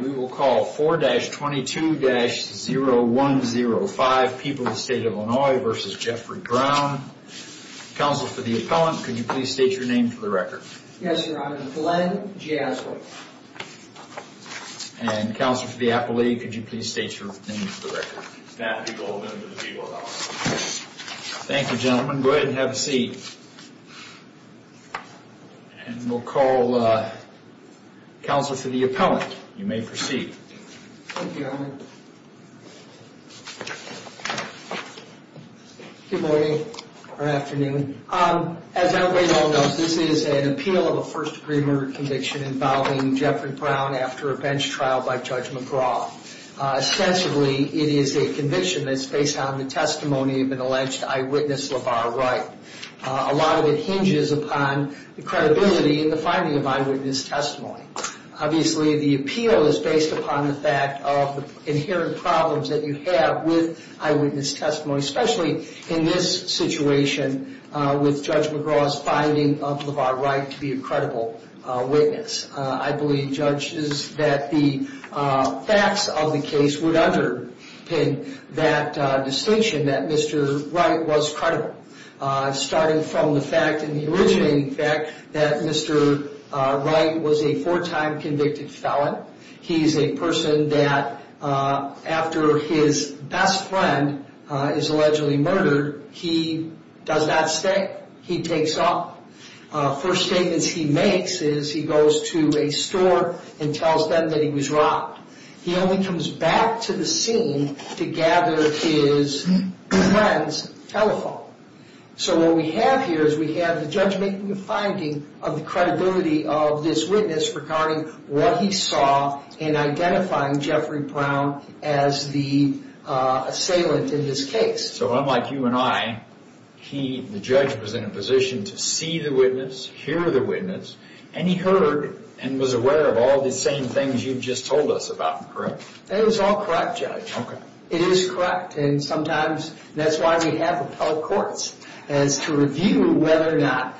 We will call 4-22-0105, People of the State of Illinois v. Jeffrey Brown, counsel for the appellant, could you please state your name for the record? Yes, sir. I'm Glenn Jasper. And counsel for the appellate, could you please state your name for the record? Matthew Golden, of the People of Illinois. Thank you, gentlemen. Go ahead and have a seat. And we'll call counsel for the appellant. You may proceed. Thank you, gentlemen. Good morning or afternoon. As everybody knows, this is an appeal of a first-degree murder conviction involving Jeffrey Brown after a bench trial by Judge McGraw. Ostensibly, it is a conviction that's based on the testimony of an alleged eyewitness, LeVar Wright. A lot of it hinges upon the credibility and the finding of eyewitness testimony. Obviously, the appeal is based upon the fact of the inherent problems that you have with eyewitness testimony, especially in this situation with Judge McGraw's finding of LeVar Wright to be a credible witness. I believe, judges, that the facts of the case would underpin that distinction, that Mr. Wright was credible. Starting from the fact, and the originating fact, that Mr. Wright was a four-time convicted felon. He's a person that, after his best friend is allegedly murdered, he does not stay. He takes off. First statements he makes is he goes to a store and tells them that he was robbed. He only comes back to the scene to gather his friend's telephone. So what we have here is we have the judge making a finding of the credibility of this witness regarding what he saw in identifying Jeffrey Brown as the assailant in this case. So unlike you and I, the judge was in a position to see the witness, hear the witness, and he heard and was aware of all the same things you've just told us about, correct? It was all correct, Judge. It is correct, and sometimes that's why we have appellate courts, is to review whether or not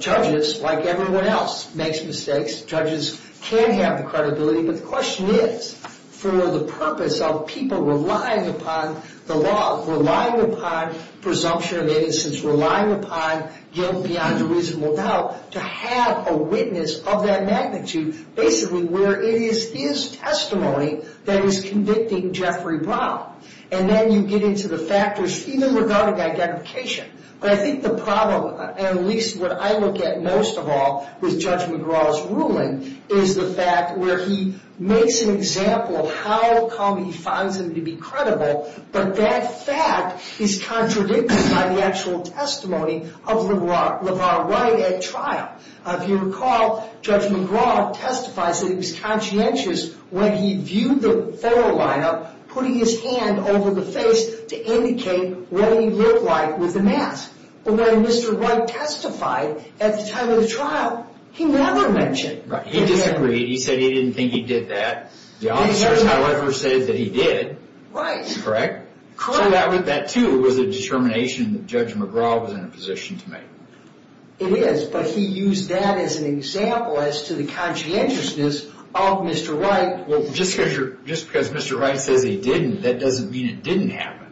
judges, like everyone else, makes mistakes. Judges can have the credibility, but the question is for the purpose of people relying upon the law, relying upon presumption of innocence, relying upon guilt beyond a reasonable doubt, to have a witness of that magnitude, basically where it is his testimony that is convicting Jeffrey Brown. And then you get into the factors, even regarding identification. But I think the problem, at least what I look at most of all with Judge McGraw's ruling, is the fact where he makes an example of how come he finds him to be credible, but that fact is contradicted by the actual testimony of LeVar Wright at trial. If you recall, Judge McGraw testifies that he was conscientious when he viewed the photo lineup, putting his hand over the face to indicate what he looked like with the mask. But when Mr. Wright testified at the time of the trial, he never mentioned it. He disagreed. He said he didn't think he did that. The officers, however, said that he did. Right. Correct? Correct. So that too was a determination that Judge McGraw was in a position to make. It is, but he used that as an example as to the conscientiousness of Mr. Wright. Well, just because Mr. Wright says he didn't, that doesn't mean it didn't happen.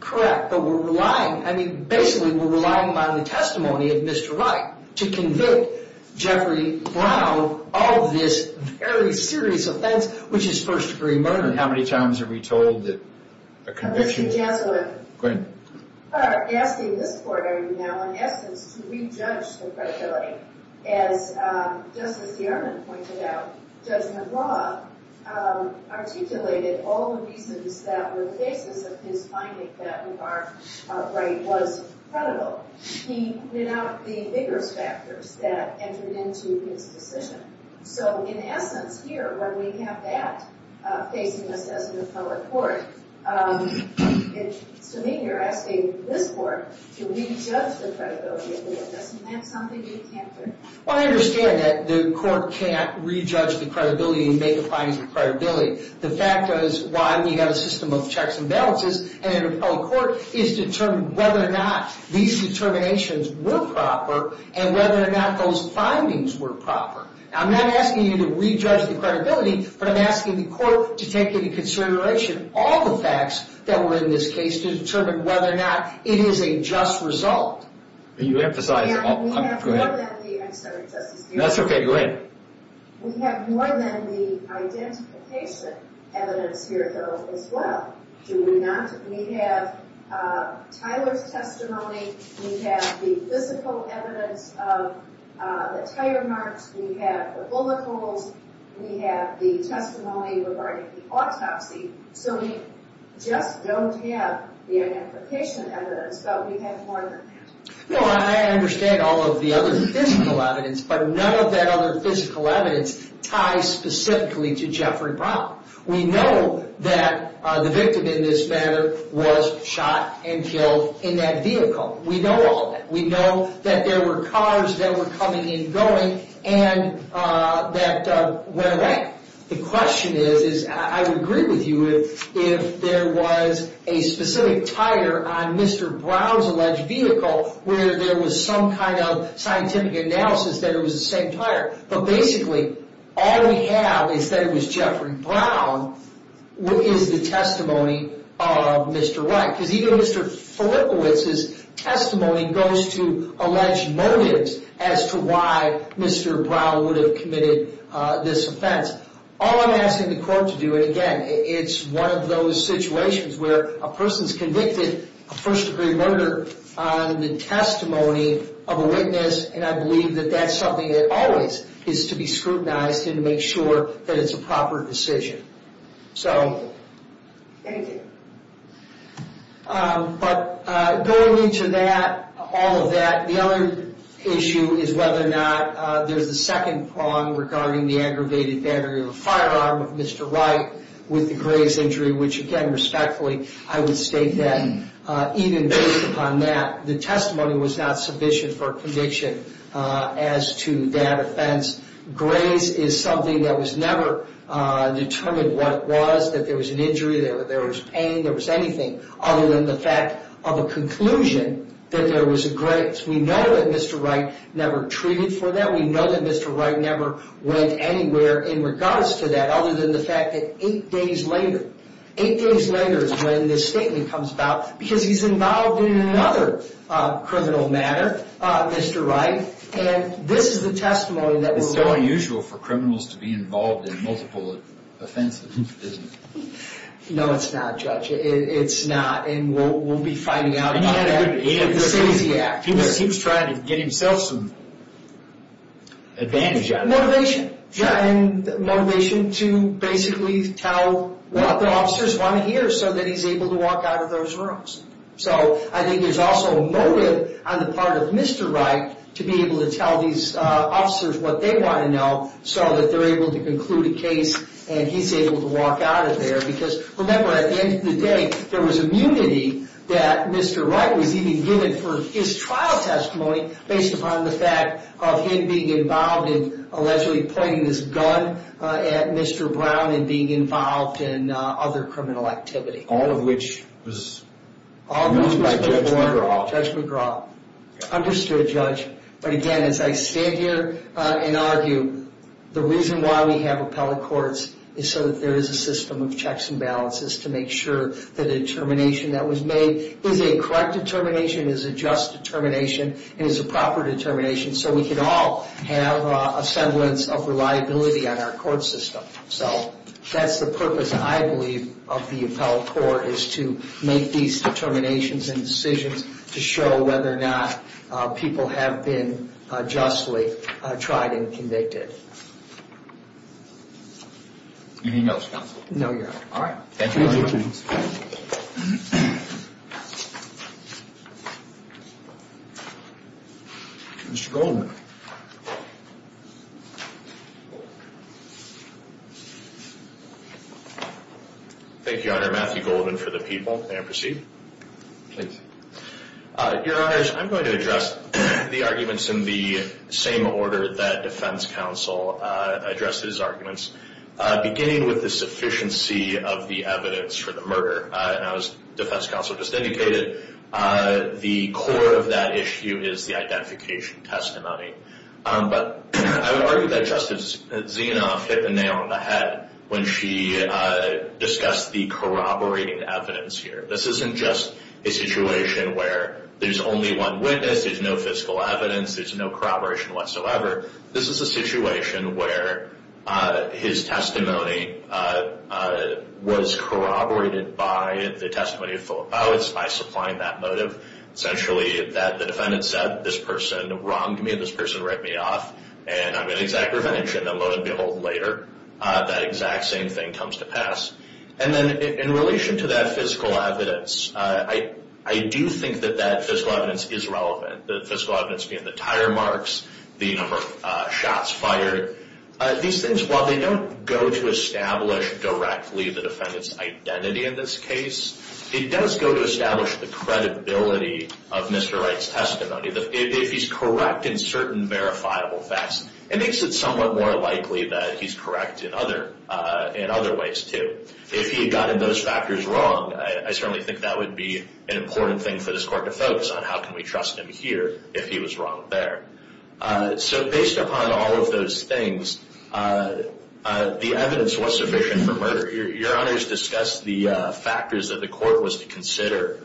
Correct, but we're relying, I mean, basically we're relying on the testimony of Mr. Wright to convict Jeffrey Brown of this very serious offense, which is first-degree murder. How many times are we told that a conviction— Go ahead. Asking this court now, in essence, to re-judge the credibility. As Justice Yerman pointed out, Judge McGraw articulated all the reasons that were the basis of his finding that McGraw Wright was credible. He put out the vigorous factors that entered into his decision. So, in essence, here, when we have that facing us as an appellate court, to me, you're asking this court to re-judge the credibility of the witness. Isn't that something you can't do? Well, I understand that the court can't re-judge the credibility and make the findings of credibility. The fact is, one, you have a system of checks and balances, and an appellate court is determined whether or not these determinations were proper and whether or not those findings were proper. Now, I'm not asking you to re-judge the credibility, but I'm asking the court to take into consideration all the facts that were in this case to determine whether or not it is a just result. You emphasize— We have more than the— I'm sorry, Justice Yerman. That's okay. Go ahead. We have more than the identification evidence here, though, as well. Do we not? We have Tyler's testimony. We have the physical evidence of the tire marks. We have the bullet holes. We have the testimony regarding the autopsy. So we just don't have the identification evidence, but we have more than that. No, I understand all of the other physical evidence, but none of that other physical evidence ties specifically to Jeffrey Brown. We know that the victim in this matter was shot and killed in that vehicle. We know all of that. We know that there were cars that were coming and going and that went away. The question is, I would agree with you if there was a specific tire on Mr. Brown's alleged vehicle where there was some kind of scientific analysis that it was the same tire. But basically, all we have is that it was Jeffrey Brown. What is the testimony of Mr. Wright? Because even Mr. Filippowitz's testimony goes to alleged motives as to why Mr. Brown would have committed this offense. All I'm asking the court to do, and again, it's one of those situations where a person is convicted of first-degree murder on the testimony of a witness, and I believe that that's something that always is to be scrutinized and to make sure that it's a proper decision. Thank you. But going into that, all of that, the other issue is whether or not there's a second prong regarding the aggravated battery of a firearm of Mr. Wright with the Graze injury, which again, respectfully, I would state that even based upon that, the testimony was not sufficient for a conviction as to that offense. Graze is something that was never determined what it was, that there was an injury, there was pain, there was anything, other than the fact of a conclusion that there was a Graze. We know that Mr. Wright never treated for that. We know that Mr. Wright never went anywhere in regards to that, other than the fact that eight days later, eight days later is when this statement comes about, because he's involved in another criminal matter, Mr. Wright, and this is the testimony that we're going to... It's not unusual for criminals to be involved in multiple offenses, is it? No, it's not, Judge. It's not, and we'll be finding out about that with the CITESY Act. He was trying to get himself some advantage out of it. Motivation, and motivation to basically tell what the officers want to hear so that he's able to walk out of those rooms. I think there's also a motive on the part of Mr. Wright to be able to tell these officers what they want to know so that they're able to conclude a case and he's able to walk out of there, because remember, at the end of the day, there was immunity that Mr. Wright was even given for his trial testimony based upon the fact of him being involved in allegedly pointing this gun at Mr. Brown and being involved in other criminal activity. All of which was moved by Judge McGraw. All of which was moved by Judge McGraw. Understood, Judge. But again, as I stand here and argue, the reason why we have appellate courts is so that there is a system of checks and balances to make sure that a determination that was made is a correct determination, is a just determination, and is a proper determination so we can all have a semblance of reliability on our court system. So that's the purpose, I believe, of the appellate court, is to make these determinations and decisions to show whether or not people have been justly tried and convicted. Anything else, counsel? No, Your Honor. All right. Thank you. Mr. Goldman. Thank you, Your Honor. Matthew Goldman for the people. May I proceed? Please. Your Honors, I'm going to address the arguments in the same order that defense counsel addressed his arguments, beginning with the sufficiency of the evidence for the murder. As defense counsel just indicated, the core of that issue is the identification testimony. But I would argue that Justice Zinoff hit the nail on the head when she discussed the corroborating evidence here. This isn't just a situation where there's only one witness, there's no physical evidence, there's no corroboration whatsoever. This is a situation where his testimony was corroborated by the testimony of Philip Bowens by supplying that motive, essentially that the defendant said, this person wronged me and this person ripped me off and I'm getting exact revenge. And then lo and behold later, that exact same thing comes to pass. And then in relation to that physical evidence, I do think that that physical evidence is relevant. The physical evidence being the tire marks, the number of shots fired. These things, while they don't go to establish directly the defendant's identity in this case, it does go to establish the credibility of Mr. Wright's testimony. If he's correct in certain verifiable facts, it makes it somewhat more likely that he's correct in other ways too. If he had gotten those factors wrong, I certainly think that would be an important thing for this court to focus on. How can we trust him here if he was wrong there? So based upon all of those things, the evidence was sufficient for murder. Your Honor has discussed the factors that the court was to consider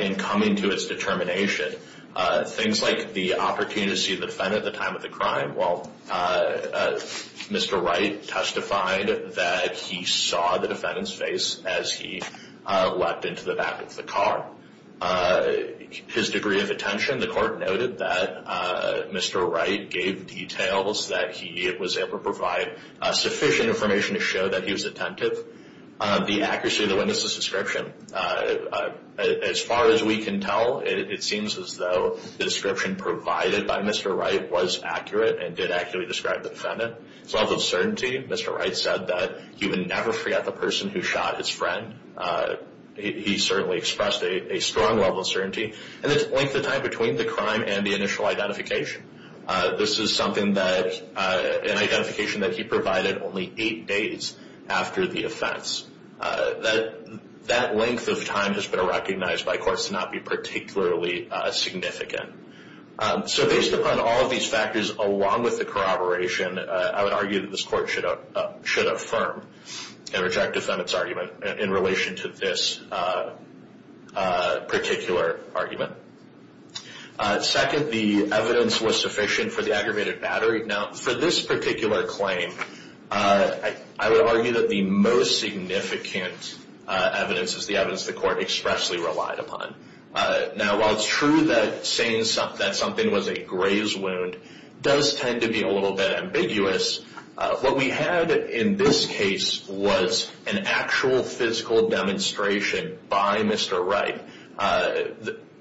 in coming to its determination. Things like the opportunity to see the defendant at the time of the crime. Well, Mr. Wright testified that he saw the defendant's face as he leapt into the back of the car. His degree of attention, the court noted that Mr. Wright gave details that he was able to provide sufficient information to show that he was attentive. The accuracy of the witness's description, as far as we can tell, it seems as though the description provided by Mr. Wright was accurate and did accurately describe the defendant. His level of certainty, Mr. Wright said that he would never forget the person who shot his friend. He certainly expressed a strong level of certainty. And its length of time between the crime and the initial identification. This is an identification that he provided only eight days after the offense. That length of time has been recognized by courts to not be particularly significant. So based upon all of these factors, along with the corroboration, I would argue that this court should affirm and reject the defendant's argument in relation to this particular argument. Second, the evidence was sufficient for the aggravated battery. Now, for this particular claim, I would argue that the most significant evidence is the evidence the court expressly relied upon. Now, while it's true that saying that something was a graze wound does tend to be a little bit ambiguous, what we had in this case was an actual physical demonstration by Mr. Wright.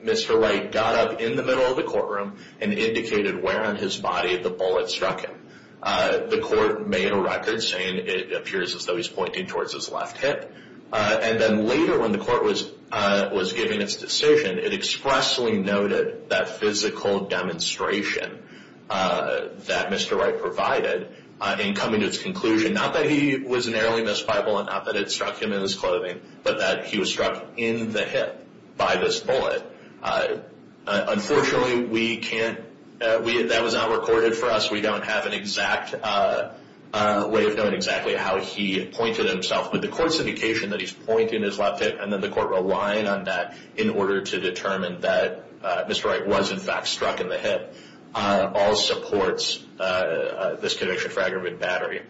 Mr. Wright got up in the middle of the courtroom and indicated where on his body the bullet struck him. The court made a record saying it appears as though he's pointing towards his left hip. And then later when the court was giving its decision, it expressly noted that physical demonstration that Mr. Wright provided in coming to its conclusion, not that he was an early misfire bullet, not that it struck him in his clothing, but that he was struck in the hip by this bullet. Unfortunately, that was not recorded for us. We don't have an exact way of knowing exactly how he pointed himself. But the court's indication that he's pointing his left hip, and then the court relying on that in order to determine that Mr. Wright was in fact struck in the hip, all supports this conviction for aggravated battery.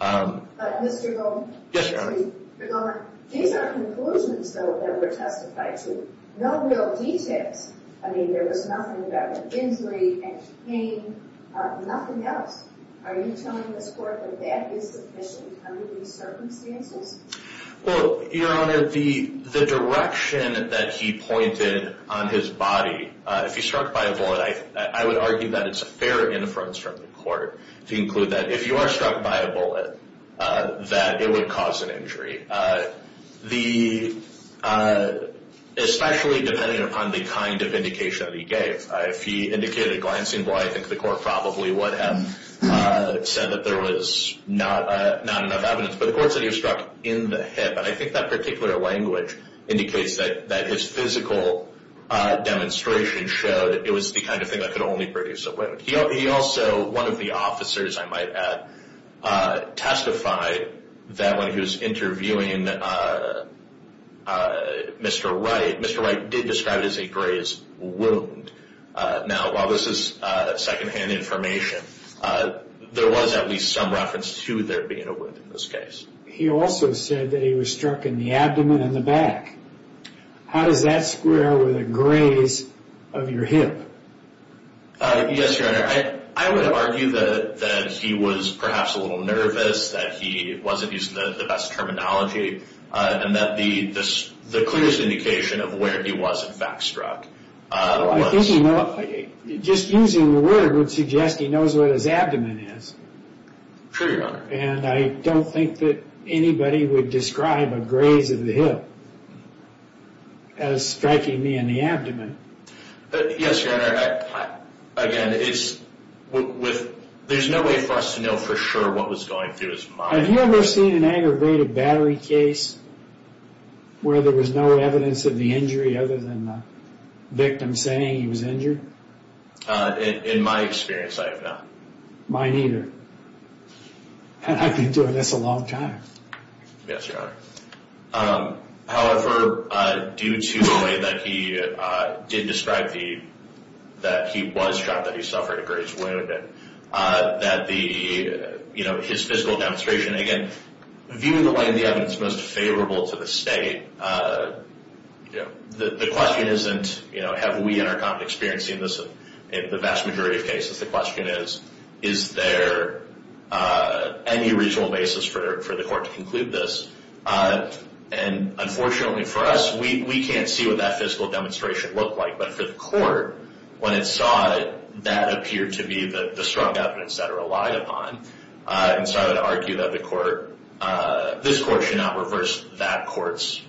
Mr. Goldman? Yes, Your Honor. Mr. Goldman, these are conclusions, though, that were testified to. No real details. I mean, there was nothing about injury and pain, nothing else. Are you telling this court that that is sufficient under these circumstances? Well, Your Honor, the direction that he pointed on his body, if he struck by a bullet, I would argue that it's a fair inference from the court to include that. If you are struck by a bullet, that it would cause an injury, especially depending upon the kind of indication that he gave. If he indicated a glancing blow, I think the court probably would have said that there was not enough evidence. But the court said he was struck in the hip, and I think that particular language indicates that his physical demonstration showed it was the kind of thing that could only produce a wound. He also, one of the officers, I might add, testified that when he was interviewing Mr. Wright, Mr. Wright did describe it as a grazed wound. Now, while this is secondhand information, there was at least some reference to there being a wound in this case. He also said that he was struck in the abdomen and the back. How does that square with a graze of your hip? Yes, Your Honor. I would argue that he was perhaps a little nervous, that he wasn't using the best terminology, and that the clearest indication of where he was in fact struck was... I think just using the word would suggest he knows what his abdomen is. True, Your Honor. And I don't think that anybody would describe a graze of the hip as striking me in the abdomen. Yes, Your Honor. Again, there's no way for us to know for sure what was going through his mind. Have you ever seen an aggravated battery case where there was no evidence of the injury other than the victim saying he was injured? In my experience, I have not. Mine either. And I've been doing this a long time. Yes, Your Honor. However, due to the way that he did describe that he was struck, that he suffered a graze wound, that his physical demonstration, again, viewed in the light of the evidence most favorable to the state, the question isn't have we in our common experience seen this in the vast majority of cases. The question is, is there any reasonable basis for the court to conclude this? And unfortunately for us, we can't see what that physical demonstration looked like. But for the court, when it saw that appeared to be the struck evidence that it relied upon, it started to argue that this court should not reverse that court's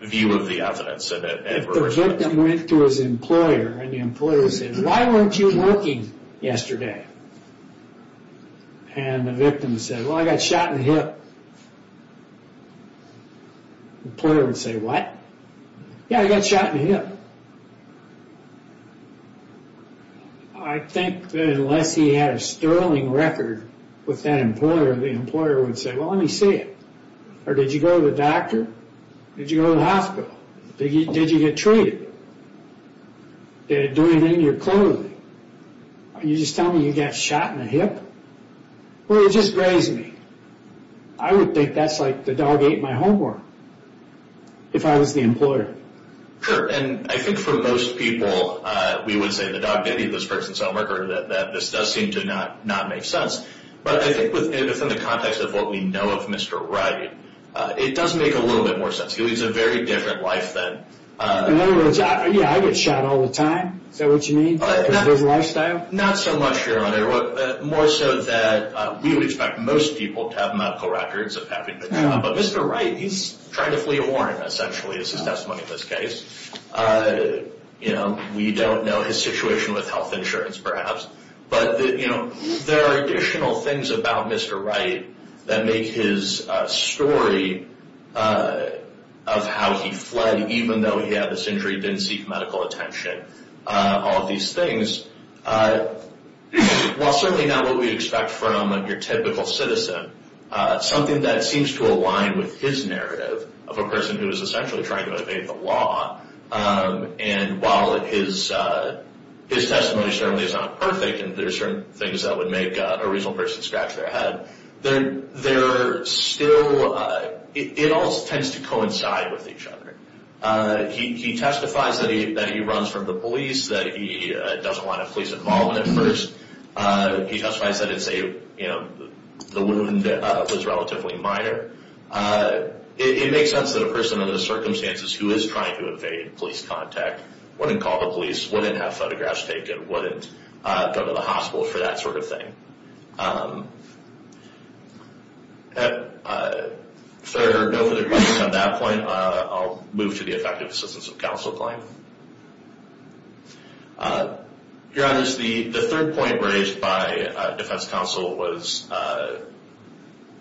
view of the evidence. If the victim went to his employer and the employer said, why weren't you working yesterday? And the victim said, well, I got shot in the hip. The employer would say, what? Yeah, I got shot in the hip. I think that unless he had a sterling record with that employer, the employer would say, well, let me see it. Or did you go to the doctor? Did you go to the hospital? Did you get treated? Did they do anything to your clothing? Are you just telling me you got shot in the hip? Well, it just grazed me. I would think that's like the dog ate my homework if I was the employer. Sure. And I think for most people, we would say the dog did eat this person's homework or that this does seem to not make sense. But I think within the context of what we know of Mr. Wright, it does make a little bit more sense. He leads a very different life than – In other words, yeah, I get shot all the time. Is that what you mean, his lifestyle? Not so much, Your Honor. More so that we would expect most people to have medical records of having been shot. But Mr. Wright, he's trying to flee a warrant, essentially, is his testimony in this case. We don't know his situation with health insurance, perhaps. But there are additional things about Mr. Wright that make his story of how he fled, even though he had this injury, didn't seek medical attention, all of these things, while certainly not what we would expect from your typical citizen, something that seems to align with his narrative of a person who is essentially trying to evade the law. And while his testimony certainly is not perfect and there are certain things that would make a reasonable person scratch their head, they're still – it all tends to coincide with each other. He testifies that he runs from the police, that he doesn't want to police involvement at first. He testifies that it's a – the wound was relatively minor. It makes sense that a person under the circumstances who is trying to evade police contact wouldn't call the police, wouldn't have photographs taken, wouldn't go to the hospital for that sort of thing. If there are no further questions on that point, I'll move to the effective assistance of counsel claim. Your Honor, the third point raised by defense counsel was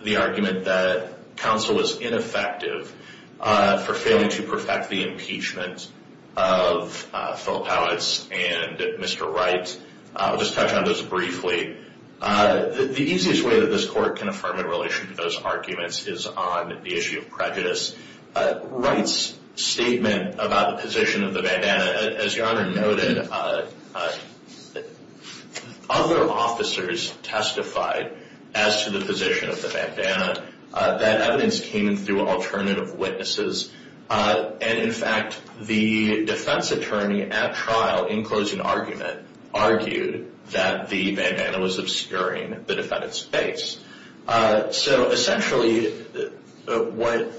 the argument that counsel was ineffective for failing to perfect the impeachment of Phil Powitz and Mr. Wright. I'll just touch on those briefly. The easiest way that this court can affirm in relation to those arguments is on the issue of prejudice. Wright's statement about the position of the bandana, as Your Honor noted, when other officers testified as to the position of the bandana, that evidence came in through alternative witnesses. And, in fact, the defense attorney at trial, in closing argument, argued that the bandana was obscuring the defendant's face. So, essentially, what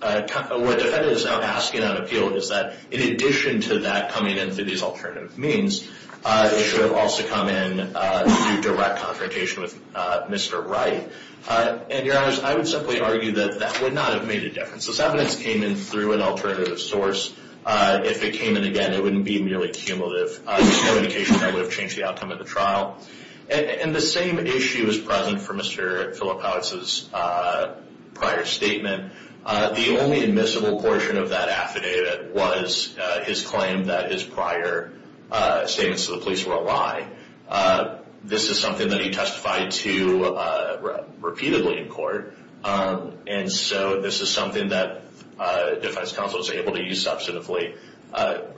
defendant is now asking on appeal is that, in addition to that coming in through these alternative means, it should have also come in through direct confrontation with Mr. Wright. And, Your Honors, I would simply argue that that would not have made a difference. This evidence came in through an alternative source. If it came in again, it wouldn't be merely cumulative. This communication would have changed the outcome of the trial. And the same issue is present for Mr. Phil Powitz's prior statement. The only admissible portion of that affidavit was his claim that his prior statements to the police were a lie. This is something that he testified to repeatedly in court. And so this is something that defense counsel is able to use substantively.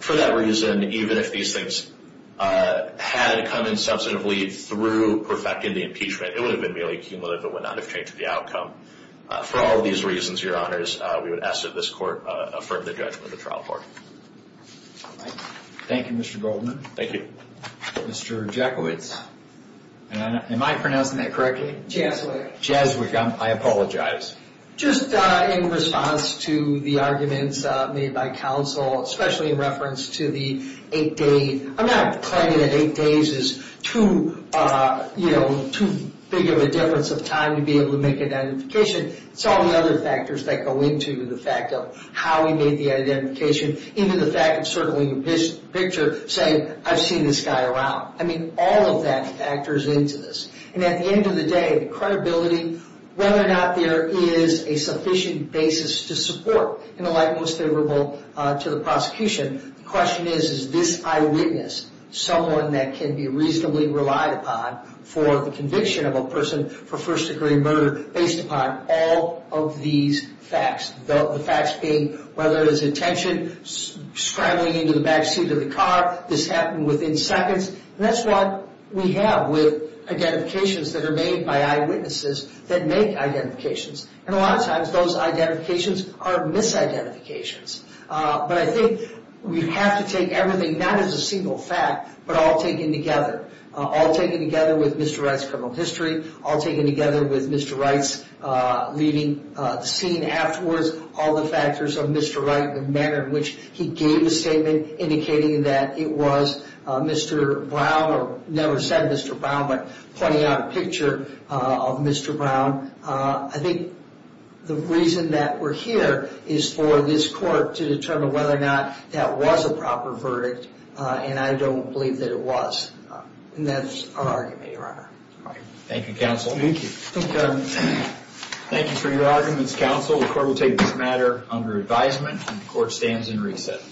For that reason, even if these things had come in substantively through perfecting the impeachment, it would have been merely cumulative. It would not have changed the outcome. For all of these reasons, Your Honors, we would ask that this court affirm the judgment of the trial court. Thank you, Mr. Goldman. Thank you. Mr. Jackowitz. Am I pronouncing that correctly? Jaswyk. Jaswyk, I apologize. Just in response to the arguments made by counsel, especially in reference to the eight-day – I'm not claiming that eight days is too big of a difference of time to be able to make an identification. It's all the other factors that go into the fact of how he made the identification, even the fact of circling the picture saying, I've seen this guy around. I mean, all of that factors into this. And at the end of the day, the credibility, whether or not there is a sufficient basis to support, in the light most favorable to the prosecution, the question is, is this eyewitness someone that can be reasonably relied upon for the conviction of a person for first-degree murder based upon all of these facts, the facts being whether it is intention, scrambling into the backseat of the car, this happened within seconds. And that's what we have with identifications that are made by eyewitnesses that make identifications. And a lot of times, those identifications are misidentifications. But I think we have to take everything not as a single fact, but all taken together. All taken together with Mr. Wright's criminal history, all taken together with Mr. Wright's leaving the scene afterwards, all the factors of Mr. Wright, the manner in which he gave a statement indicating that it was Mr. Brown, or never said Mr. Brown, but pointing out a picture of Mr. Brown. I think the reason that we're here is for this court to determine whether or not that was a proper verdict. And I don't believe that it was. And that's our argument, Your Honor. Thank you, Counsel. Thank you. Thank you, Your Honor. Thank you for your arguments, Counsel. The court will take this matter under advisement, and the court stands in recess.